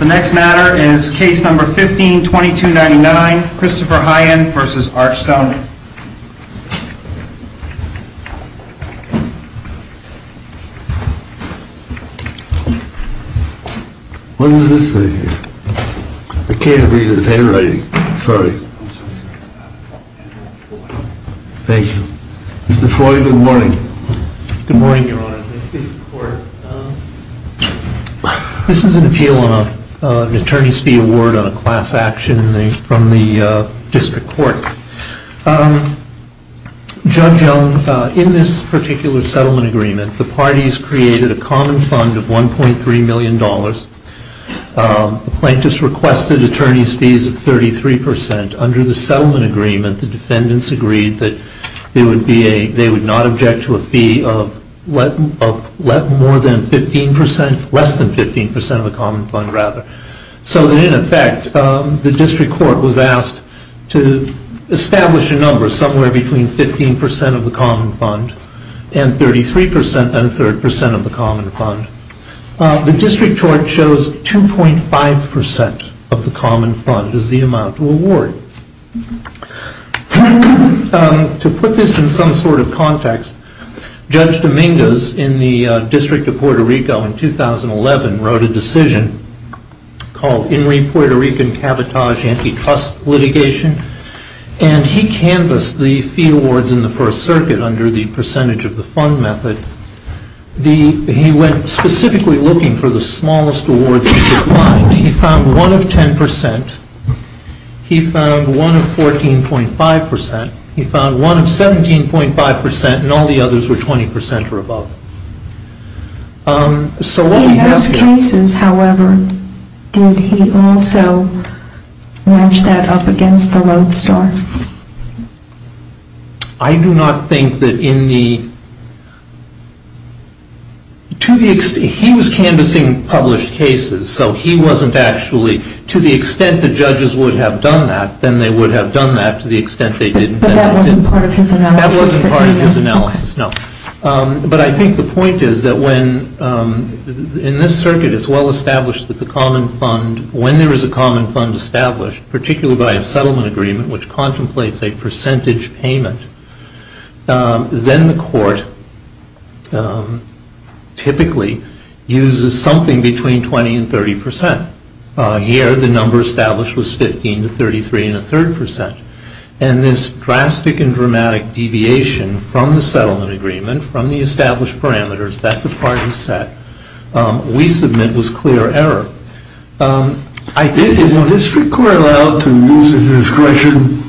The next matter is Case No. 15-2299, Christopher Heien v. Archstone. What does this say here? I can't read his handwriting. Sorry. Thank you. Mr. Foy, good morning. Good morning, Your Honor. This is an appeal on an attorney's fee award on a class action from the district court. Judge Young, in this particular settlement agreement, the parties created a common fund of $1.3 million. The plaintiffs requested attorney's fees of 33%. Under the settlement agreement, the defendants agreed that they would not object to a fee of less than 15% of the common fund. So in effect, the district court was asked to establish a number somewhere between 15% of the common fund and 33% and a third percent of the common fund. The district court chose 2.5% of the common fund as the amount to award. To put this in some sort of context, Judge Dominguez in the District of Puerto Rico in 2011 wrote a decision called In Re Puerto Rican Cavatage Antitrust Litigation. And he canvassed the fee awards in the First Circuit under the percentage of the fund method. He went specifically looking for the smallest awards he could find. He found one of 10%, he found one of 14.5%, he found one of 17.5%, and all the others were 20% or above. In those cases, however, did he also match that up against the load store? I do not think that in the... He was canvassing published cases, so he wasn't actually... To the extent the judges would have done that, then they would have done that to the extent they didn't. But that wasn't part of his analysis? That wasn't part of his analysis, no. But I think the point is that when, in this circuit, it's well established that the common fund, when there is a common fund established, particularly by a settlement agreement which contemplates a percentage payment, then the court typically uses something between 20 and 30%. Here, the number established was 15 to 33 and a third percent. And this drastic and dramatic deviation from the settlement agreement, from the established parameters that the parties set, we submit was clear error. Is the district court allowed to use its discretion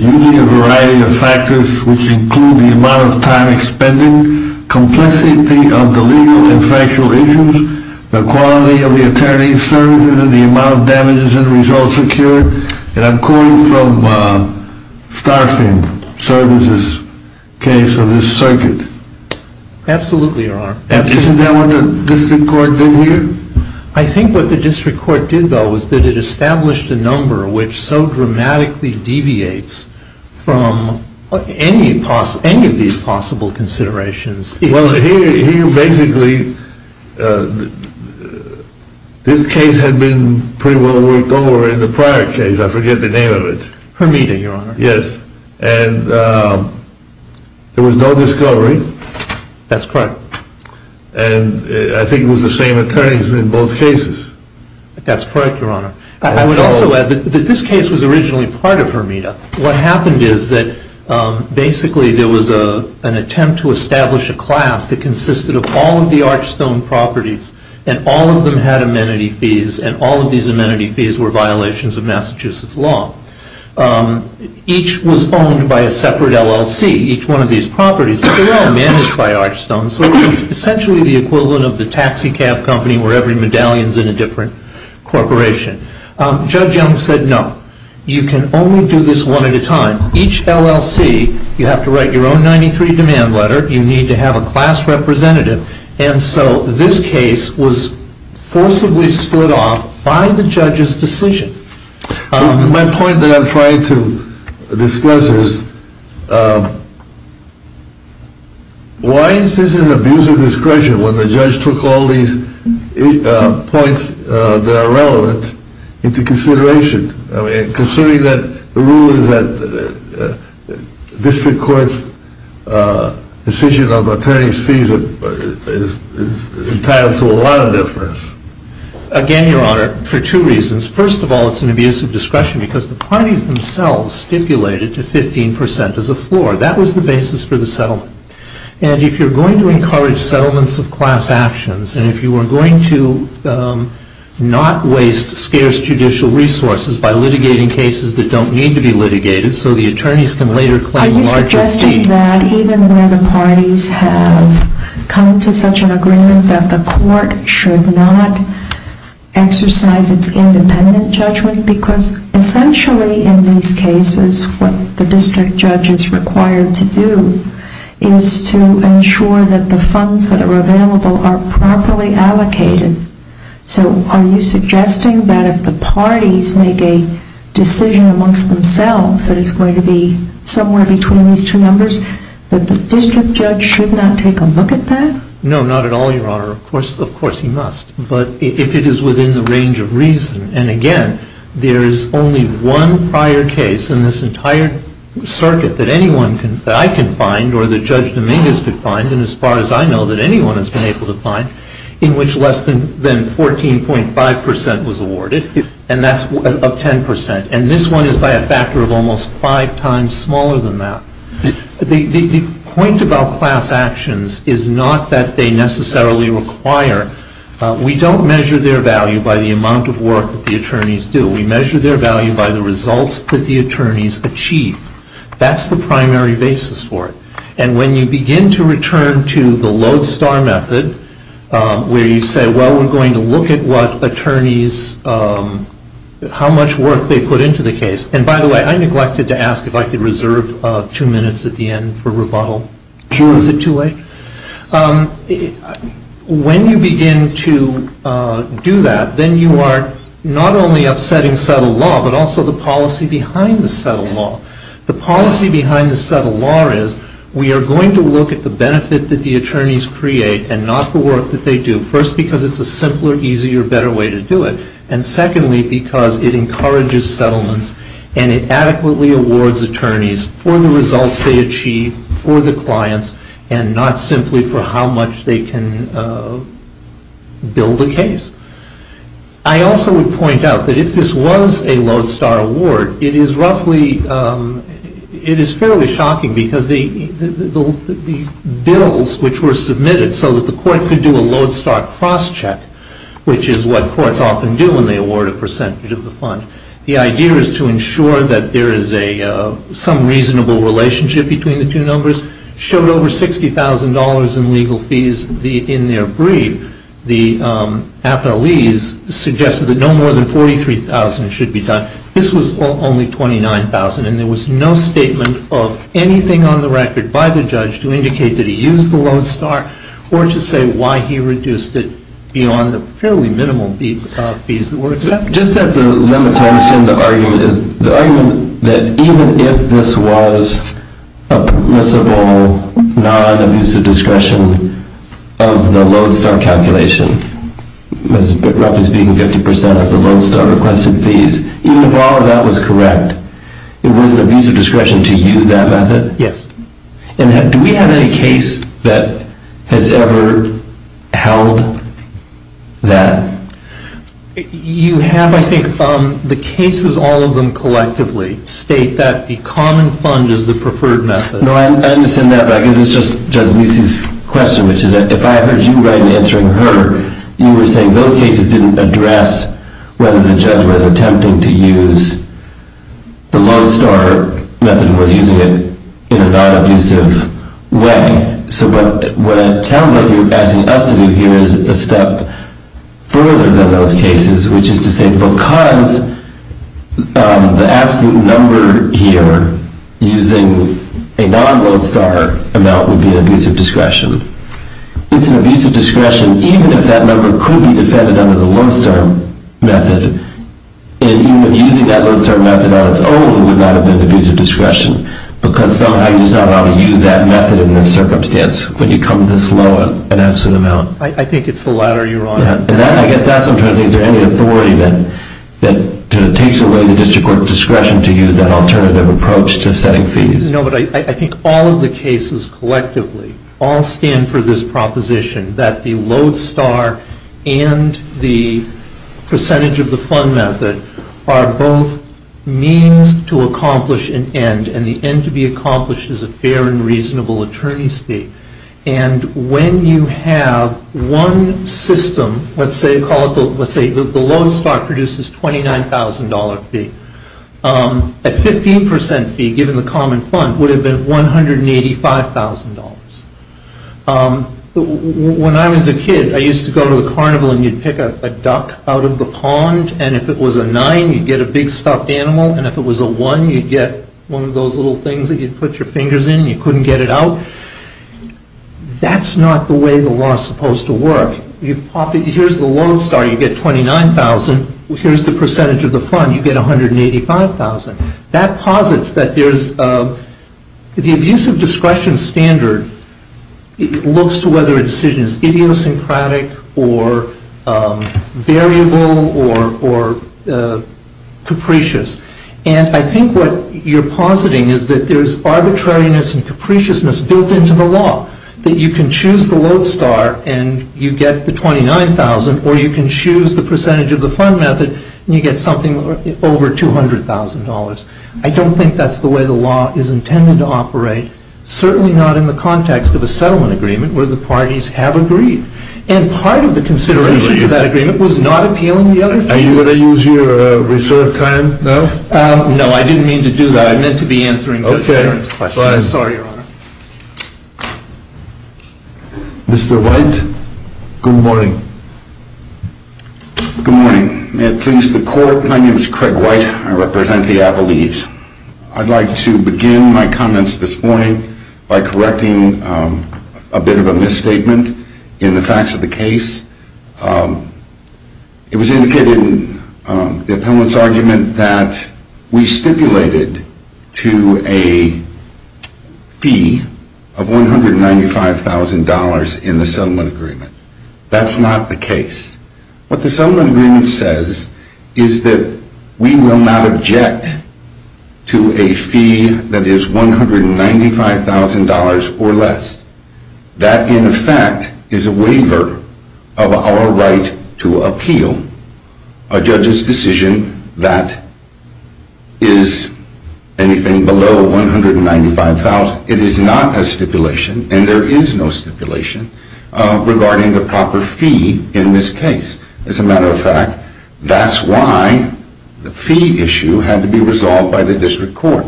using a variety of factors which include the amount of time expended, complexity of the legal and factual issues, the quality of the attorney's services, and the amount of damages and results secured? And I'm quoting from Starfin's case of this circuit. Absolutely, Your Honor. Isn't that what the district court did here? I think what the district court did, though, was that it established a number which so dramatically deviates from any of these possible considerations. Well, here, basically, this case had been pretty well worked over in the prior case. I forget the name of it. Hermita, Your Honor. Yes. And there was no discovery. That's correct. And I think it was the same attorneys in both cases. That's correct, Your Honor. I would also add that this case was originally part of Hermita. What happened is that, basically, there was an attempt to establish a class that consisted of all of the Archstone properties. And all of them had amenity fees. And all of these amenity fees were violations of Massachusetts law. Each was owned by a separate LLC, each one of these properties. They were all managed by Archstone, so it was essentially the equivalent of the taxicab company where every medallion is in a different corporation. Judge Young said, no, you can only do this one at a time. Each LLC, you have to write your own 93 demand letter. You need to have a class representative. And so this case was forcibly split off by the judge's decision. My point that I'm trying to discuss is, why is this an abuse of discretion when the judge took all these points that are relevant into consideration? I mean, considering that the rule is that district court's decision of attorney's fees is entitled to a lot of difference. Again, Your Honor, for two reasons. First of all, it's an abuse of discretion because the parties themselves stipulated to 15% as a floor. That was the basis for the settlement. And if you're going to encourage settlements of class actions, and if you are going to not waste scarce judicial resources by litigating cases that don't need to be litigated so the attorneys can later claim larger fees. Do you think that even where the parties have come to such an agreement that the court should not exercise its independent judgment? Because essentially in these cases, what the district judge is required to do is to ensure that the funds that are available are properly allocated. So are you suggesting that if the parties make a decision amongst themselves that it's going to be somewhere between these two numbers, that the district judge should not take a look at that? No, not at all, Your Honor. Of course he must. But if it is within the range of reason, and again, there is only one prior case in this entire circuit that I can find or that Judge Dominguez could find, and as far as I know that anyone has been able to find, in which less than 14.5% was awarded, and that's of 10%. And this one is by a factor of almost five times smaller than that. The point about class actions is not that they necessarily require. We don't measure their value by the amount of work that the attorneys do. We measure their value by the results that the attorneys achieve. That's the primary basis for it. And when you begin to return to the lodestar method, where you say, well, we're going to look at what attorneys, how much work they put into the case, and by the way, I neglected to ask if I could reserve two minutes at the end for rebuttal. Sure. Is it too late? When you begin to do that, then you are not only upsetting settled law, but also the policy behind the settled law. The policy behind the settled law is we are going to look at the benefit that the attorneys create and not the work that they do. First, because it's a simpler, easier, better way to do it. And secondly, because it encourages settlements and it adequately awards attorneys for the results they achieve, for the clients, and not simply for how much they can build a case. I also would point out that if this was a lodestar award, it is fairly shocking, because the bills which were submitted so that the court could do a lodestar cross-check, which is what courts often do when they award a percentage of the fund, the idea is to ensure that there is some reasonable relationship between the two numbers, showed over $60,000 in legal fees in their brief. The appellees suggested that no more than $43,000 should be done. This was only $29,000. And there was no statement of anything on the record by the judge to indicate that he used the lodestar or to say why he reduced it beyond the fairly minimal fees that were accepted. Just at the limits, I understand the argument that even if this was a permissible, non-abusive discretion of the lodestar calculation, roughly speaking 50% of the lodestar requested fees, even if all of that was correct, it was an abusive discretion to use that method? Yes. And do we have any case that has ever held that? You have, I think, the cases, all of them collectively state that the common fund is the preferred method. No, I understand that, but I guess it's just Judge Meese's question, which is if I heard you right in answering her, you were saying those cases didn't address whether the judge was attempting to use the lodestar method or was using it in a non-abusive way. So what it sounds like you're asking us to do here is a step further than those cases, which is to say because the absolute number here using a non-lodestar amount would be an abusive discretion. It's an abusive discretion even if that number could be defended under the lodestar method. And even if using that lodestar method on its own would not have been an abusive discretion because somehow you're just not allowed to use that method in this circumstance when you come this low an absolute amount. I think it's the latter, Your Honor. And I guess that sometimes leads to any authority that takes away the district court discretion to use that alternative approach to setting fees. No, but I think all of the cases collectively all stand for this proposition that the lodestar and the percentage of the fund method are both means to accomplish an end, and the end to be accomplished is a fair and reasonable attorney's fee. And when you have one system, let's say the lodestar produces a $29,000 fee, a 15% fee given the common fund would have been $185,000. When I was a kid I used to go to the carnival and you'd pick a duck out of the pond and if it was a nine you'd get a big stuffed animal and if it was a one you'd get one of those little things that you'd put your fingers in and you couldn't get it out. That's not the way the law is supposed to work. Here's the lodestar, you get $29,000. Here's the percentage of the fund, you get $185,000. That posits that the abusive discretion standard looks to whether a decision is idiosyncratic or variable or capricious. And I think what you're positing is that there's arbitrariness and capriciousness built into the law, that you can choose the lodestar and you get the $29,000 or you can choose the percentage of the fund method and you get something over $200,000. I don't think that's the way the law is intended to operate, certainly not in the context of a settlement agreement where the parties have agreed. And part of the consideration for that agreement was not appealing the other fee. Are you going to use your reserve time now? No, I didn't mean to do that. I meant to be answering Judge Warren's question. I'm sorry, Your Honor. Mr. White, good morning. Good morning. May it please the Court, my name is Craig White. I represent the Appalachians. I'd like to begin my comments this morning by correcting a bit of a misstatement in the facts of the case. It was indicated in the appellant's argument that we stipulated to a fee of $195,000 in the settlement agreement. That's not the case. What the settlement agreement says is that we will not object to a fee that is $195,000 or less. That, in effect, is a waiver of our right to appeal a judge's decision that is anything below $195,000. It is not a stipulation, and there is no stipulation, regarding the proper fee in this case. As a matter of fact, that's why the fee issue had to be resolved by the district court.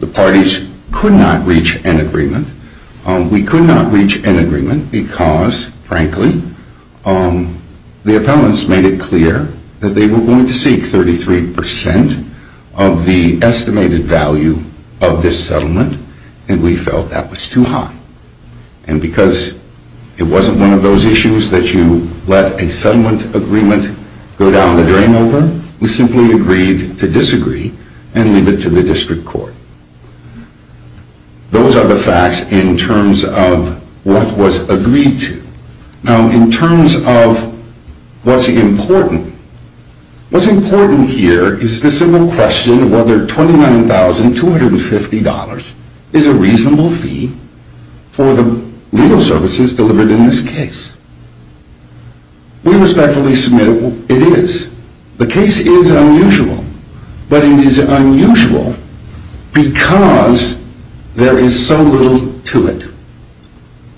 The parties could not reach an agreement. We could not reach an agreement because, frankly, the appellants made it clear that they were going to seek 33 percent of the estimated value of this settlement, and we felt that was too high. And because it wasn't one of those issues that you let a settlement agreement go down the drain over, we simply agreed to disagree and leave it to the district court. Those are the facts in terms of what was agreed to. Now, in terms of what's important, what's important here is the simple question of whether $29,250 is a reasonable fee for the legal services delivered in this case. We respectfully submit it is. The case is unusual, but it is unusual because there is so little to it.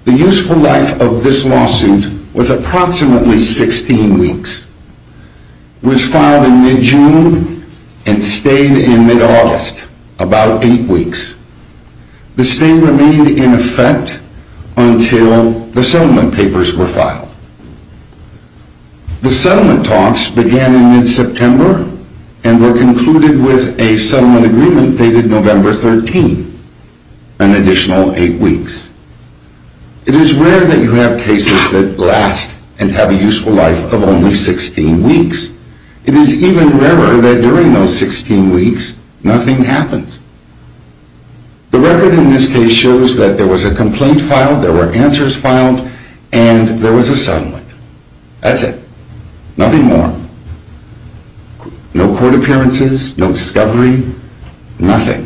The useful life of this lawsuit was approximately 16 weeks. It was filed in mid-June and stayed in mid-August, about eight weeks. The stay remained in effect until the settlement papers were filed. The settlement talks began in mid-September and were concluded with a settlement agreement dated November 13, an additional eight weeks. It is rare that you have cases that last and have a useful life of only 16 weeks. It is even rarer that during those 16 weeks, nothing happens. The record in this case shows that there was a complaint filed, there were answers filed, and there was a settlement. That's it. Nothing more. No court appearances, no discovery, nothing.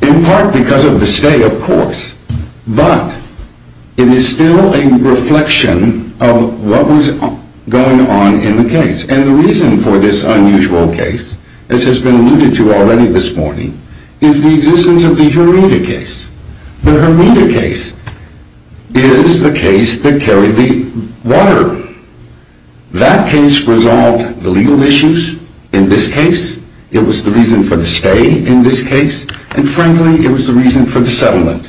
In part because of the stay, of course, but it is still a reflection of what was going on in the case. The reason for this unusual case, as has been alluded to already this morning, is the existence of the Hermida case. The Hermida case is the case that carried the water. That case resolved the legal issues. In this case, it was the reason for the stay. In this case, and frankly, it was the reason for the settlement.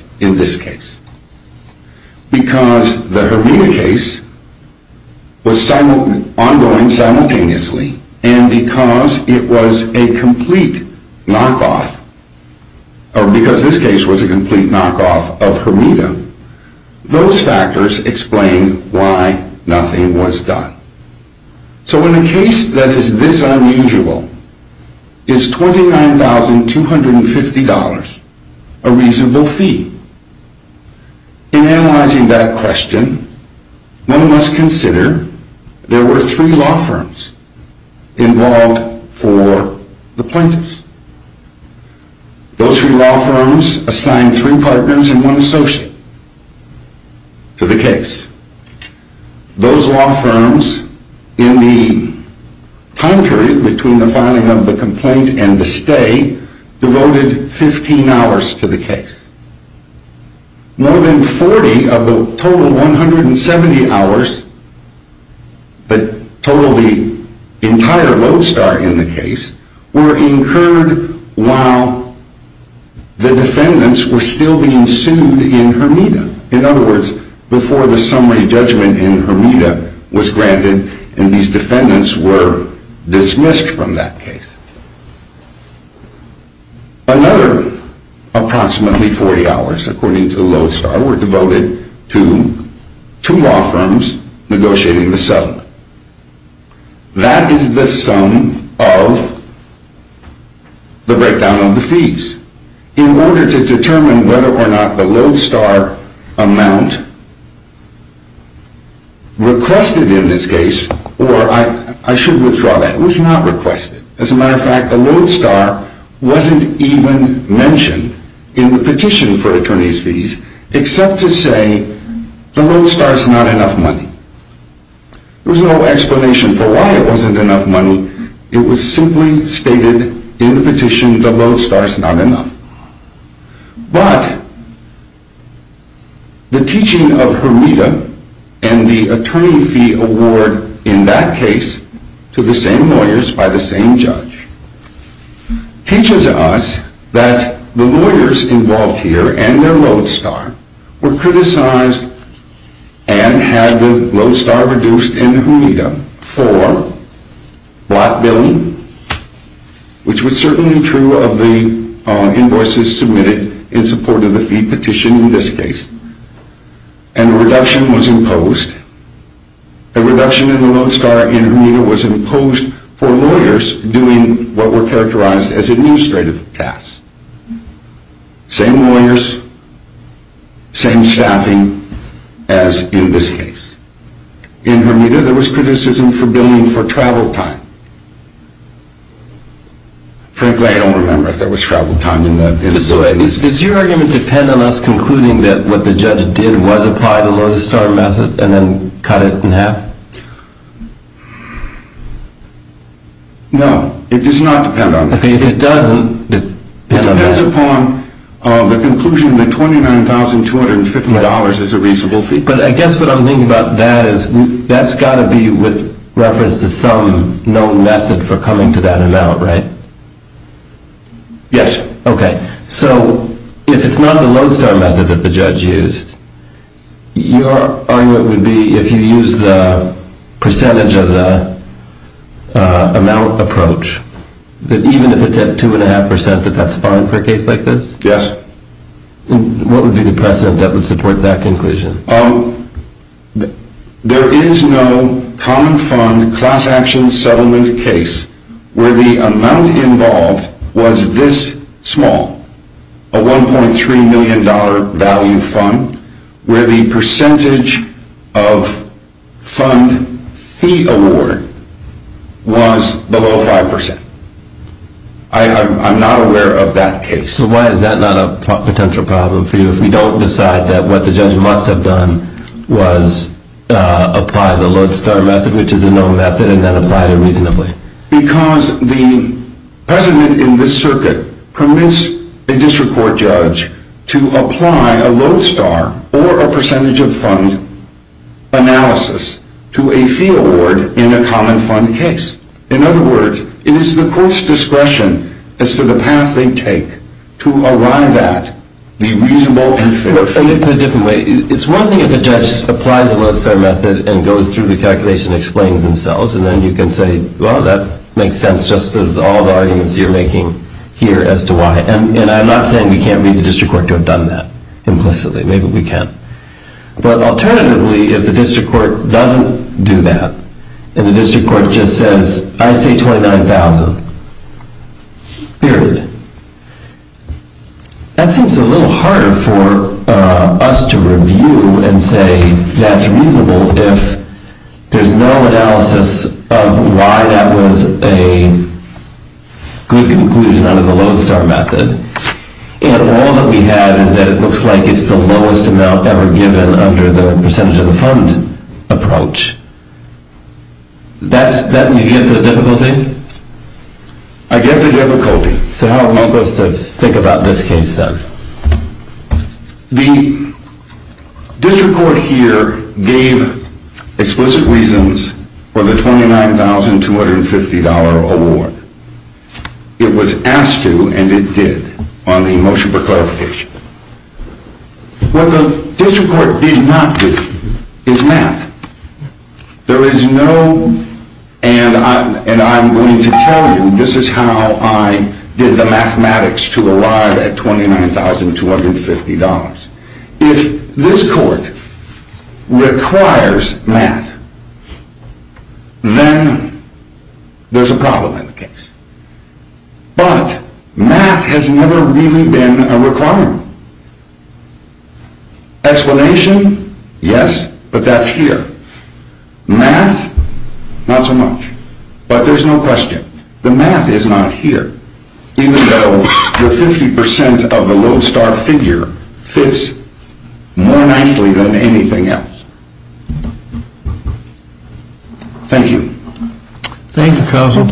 Because the Hermida case was ongoing simultaneously, and because it was a complete knockoff of Hermida, those factors explain why nothing was done. So in a case that is this unusual, is $29,250 a reasonable fee? In analyzing that question, one must consider there were three law firms involved for the plaintiffs. Those three law firms assigned three partners and one associate to the case. Those law firms, in the time period between the filing of the complaint and the stay, devoted 15 hours to the case. More than 40 of the total 170 hours, the total of the entire road start in the case, were incurred while the defendants were still being sued in Hermida. In other words, before the summary judgment in Hermida was granted and these defendants were dismissed from that case. Another approximately 40 hours, according to the lodestar, were devoted to two law firms negotiating the settlement. That is the sum of the breakdown of the fees. In order to determine whether or not the lodestar amount requested in this case, or I should withdraw that, was not requested. As a matter of fact, the lodestar wasn't even mentioned in the petition for attorney's fees, except to say the lodestar is not enough money. There was no explanation for why it wasn't enough money. It was simply stated in the petition the lodestar is not enough. But the teaching of Hermida and the attorney fee award in that case to the same lawyers by the same judge, teaches us that the lawyers involved here and their lodestar were criticized and had the lodestar reduced in Hermida for block billing, which was certainly true of the invoices submitted in support of the fee petition in this case, and a reduction was imposed. That's why in Hermida was imposed for lawyers doing what were characterized as administrative tasks. Same lawyers, same staffing as in this case. In Hermida there was criticism for billing for travel time. Frankly, I don't remember if there was travel time in that case. Does your argument depend on us concluding that what the judge did was apply the lodestar method and then cut it in half? No, it does not depend on that. Okay, if it doesn't, it depends on that. It depends upon the conclusion that $29,250 is a reasonable fee. But I guess what I'm thinking about that is that's got to be with reference to some known method for coming to that amount, right? Yes. Okay, so if it's not the lodestar method that the judge used, your argument would be if you use the percentage of the amount approach, that even if it's at 2.5% that that's fine for a case like this? Yes. What would be the precedent that would support that conclusion? There is no common fund class action settlement case where the amount involved was this small, a $1.3 million value fund, where the percentage of fund fee award was below 5%. I'm not aware of that case. So why is that not a potential problem for you if we don't decide that what the judge must have done was apply the lodestar method, which is a known method, and then apply it reasonably? Because the precedent in this circuit permits a district court judge to apply a lodestar or a percentage of fund analysis to a fee award in a common fund case. In other words, it is the court's discretion as to the path they take to arrive at the reasonable and fair fee. Let me put it a different way. It's one thing if a judge applies a lodestar method and goes through the calculation and explains themselves, and then you can say, well, that makes sense just as all the arguments you're making here as to why. And I'm not saying we can't read the district court to have done that implicitly. Maybe we can. But alternatively, if the district court doesn't do that and the district court just says, I say 29,000, period, that seems a little harder for us to review and say that's reasonable if there's no analysis of why that was a good conclusion under the lodestar method. And all that we have is that it looks like it's the lowest amount ever given under the percentage of the fund approach. That, you get the difficulty? I get the difficulty. So how are we supposed to think about this case, then? The district court here gave explicit reasons for the $29,250 award. It was asked to and it did on the motion for clarification. What the district court did not do is math. There is no, and I'm going to tell you, this is how I did the mathematics to arrive at $29,250. If this court requires math, then there's a problem in the case. But math has never really been a requirement. Explanation, yes, but that's here. Math, not so much. But there's no question. The math is not here. Even though the 50% of the lodestar figure fits more nicely than anything else. Thank you. Thank you, Counsel.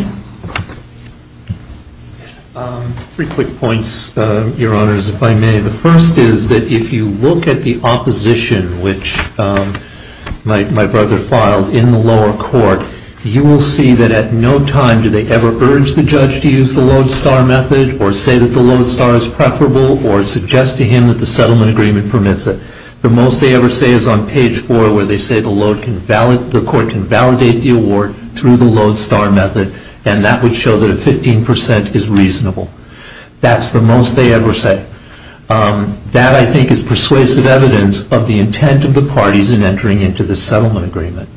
Three quick points, Your Honors, if I may. The first is that if you look at the opposition, which my brother filed in the lower court, you will see that at no time do they ever urge the judge to use the lodestar method or say that the lodestar is preferable or suggest to him that the settlement agreement permits it. The most they ever say is on page four where they say the court can validate the award through the lodestar method and that would show that a 15% is reasonable. That's the most they ever say. That, I think, is persuasive evidence of the intent of the parties in entering into the settlement agreement.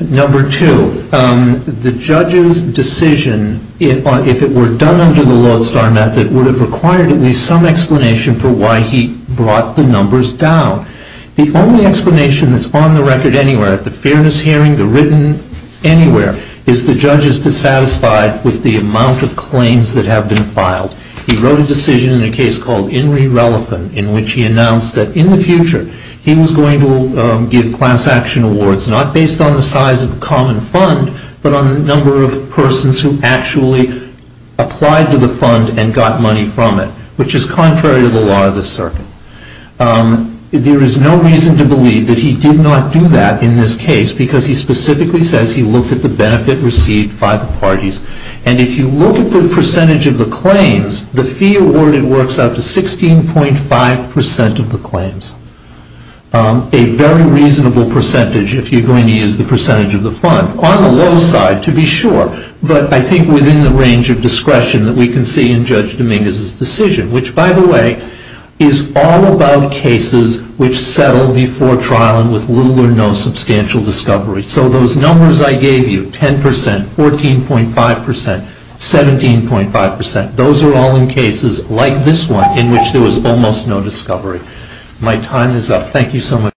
Number two, the judge's decision, if it were done under the lodestar method, would have required at least some explanation for why he brought the numbers down. The only explanation that's on the record anywhere, at the fairness hearing, the written, anywhere, is the judge is dissatisfied with the amount of claims that have been filed. He wrote a decision in a case called In Re Relevant in which he announced that in the future he was going to give class action awards not based on the size of the common fund but on the number of persons who actually applied to the fund and got money from it, which is contrary to the law of the circuit. There is no reason to believe that he did not do that in this case because he specifically says he looked at the benefit received by the parties. And if you look at the percentage of the claims, the fee awarded works out to 16.5% of the claims, a very reasonable percentage if you're going to use the percentage of the fund. On the low side, to be sure, but I think within the range of discretion that we can see in Judge Dominguez's decision, which, by the way, is all about cases which settle before trial and with little or no substantial discovery. So those numbers I gave you, 10%, 14.5%, 17.5%, those are all in cases like this one in which there was almost no discovery. My time is up. Thank you so much.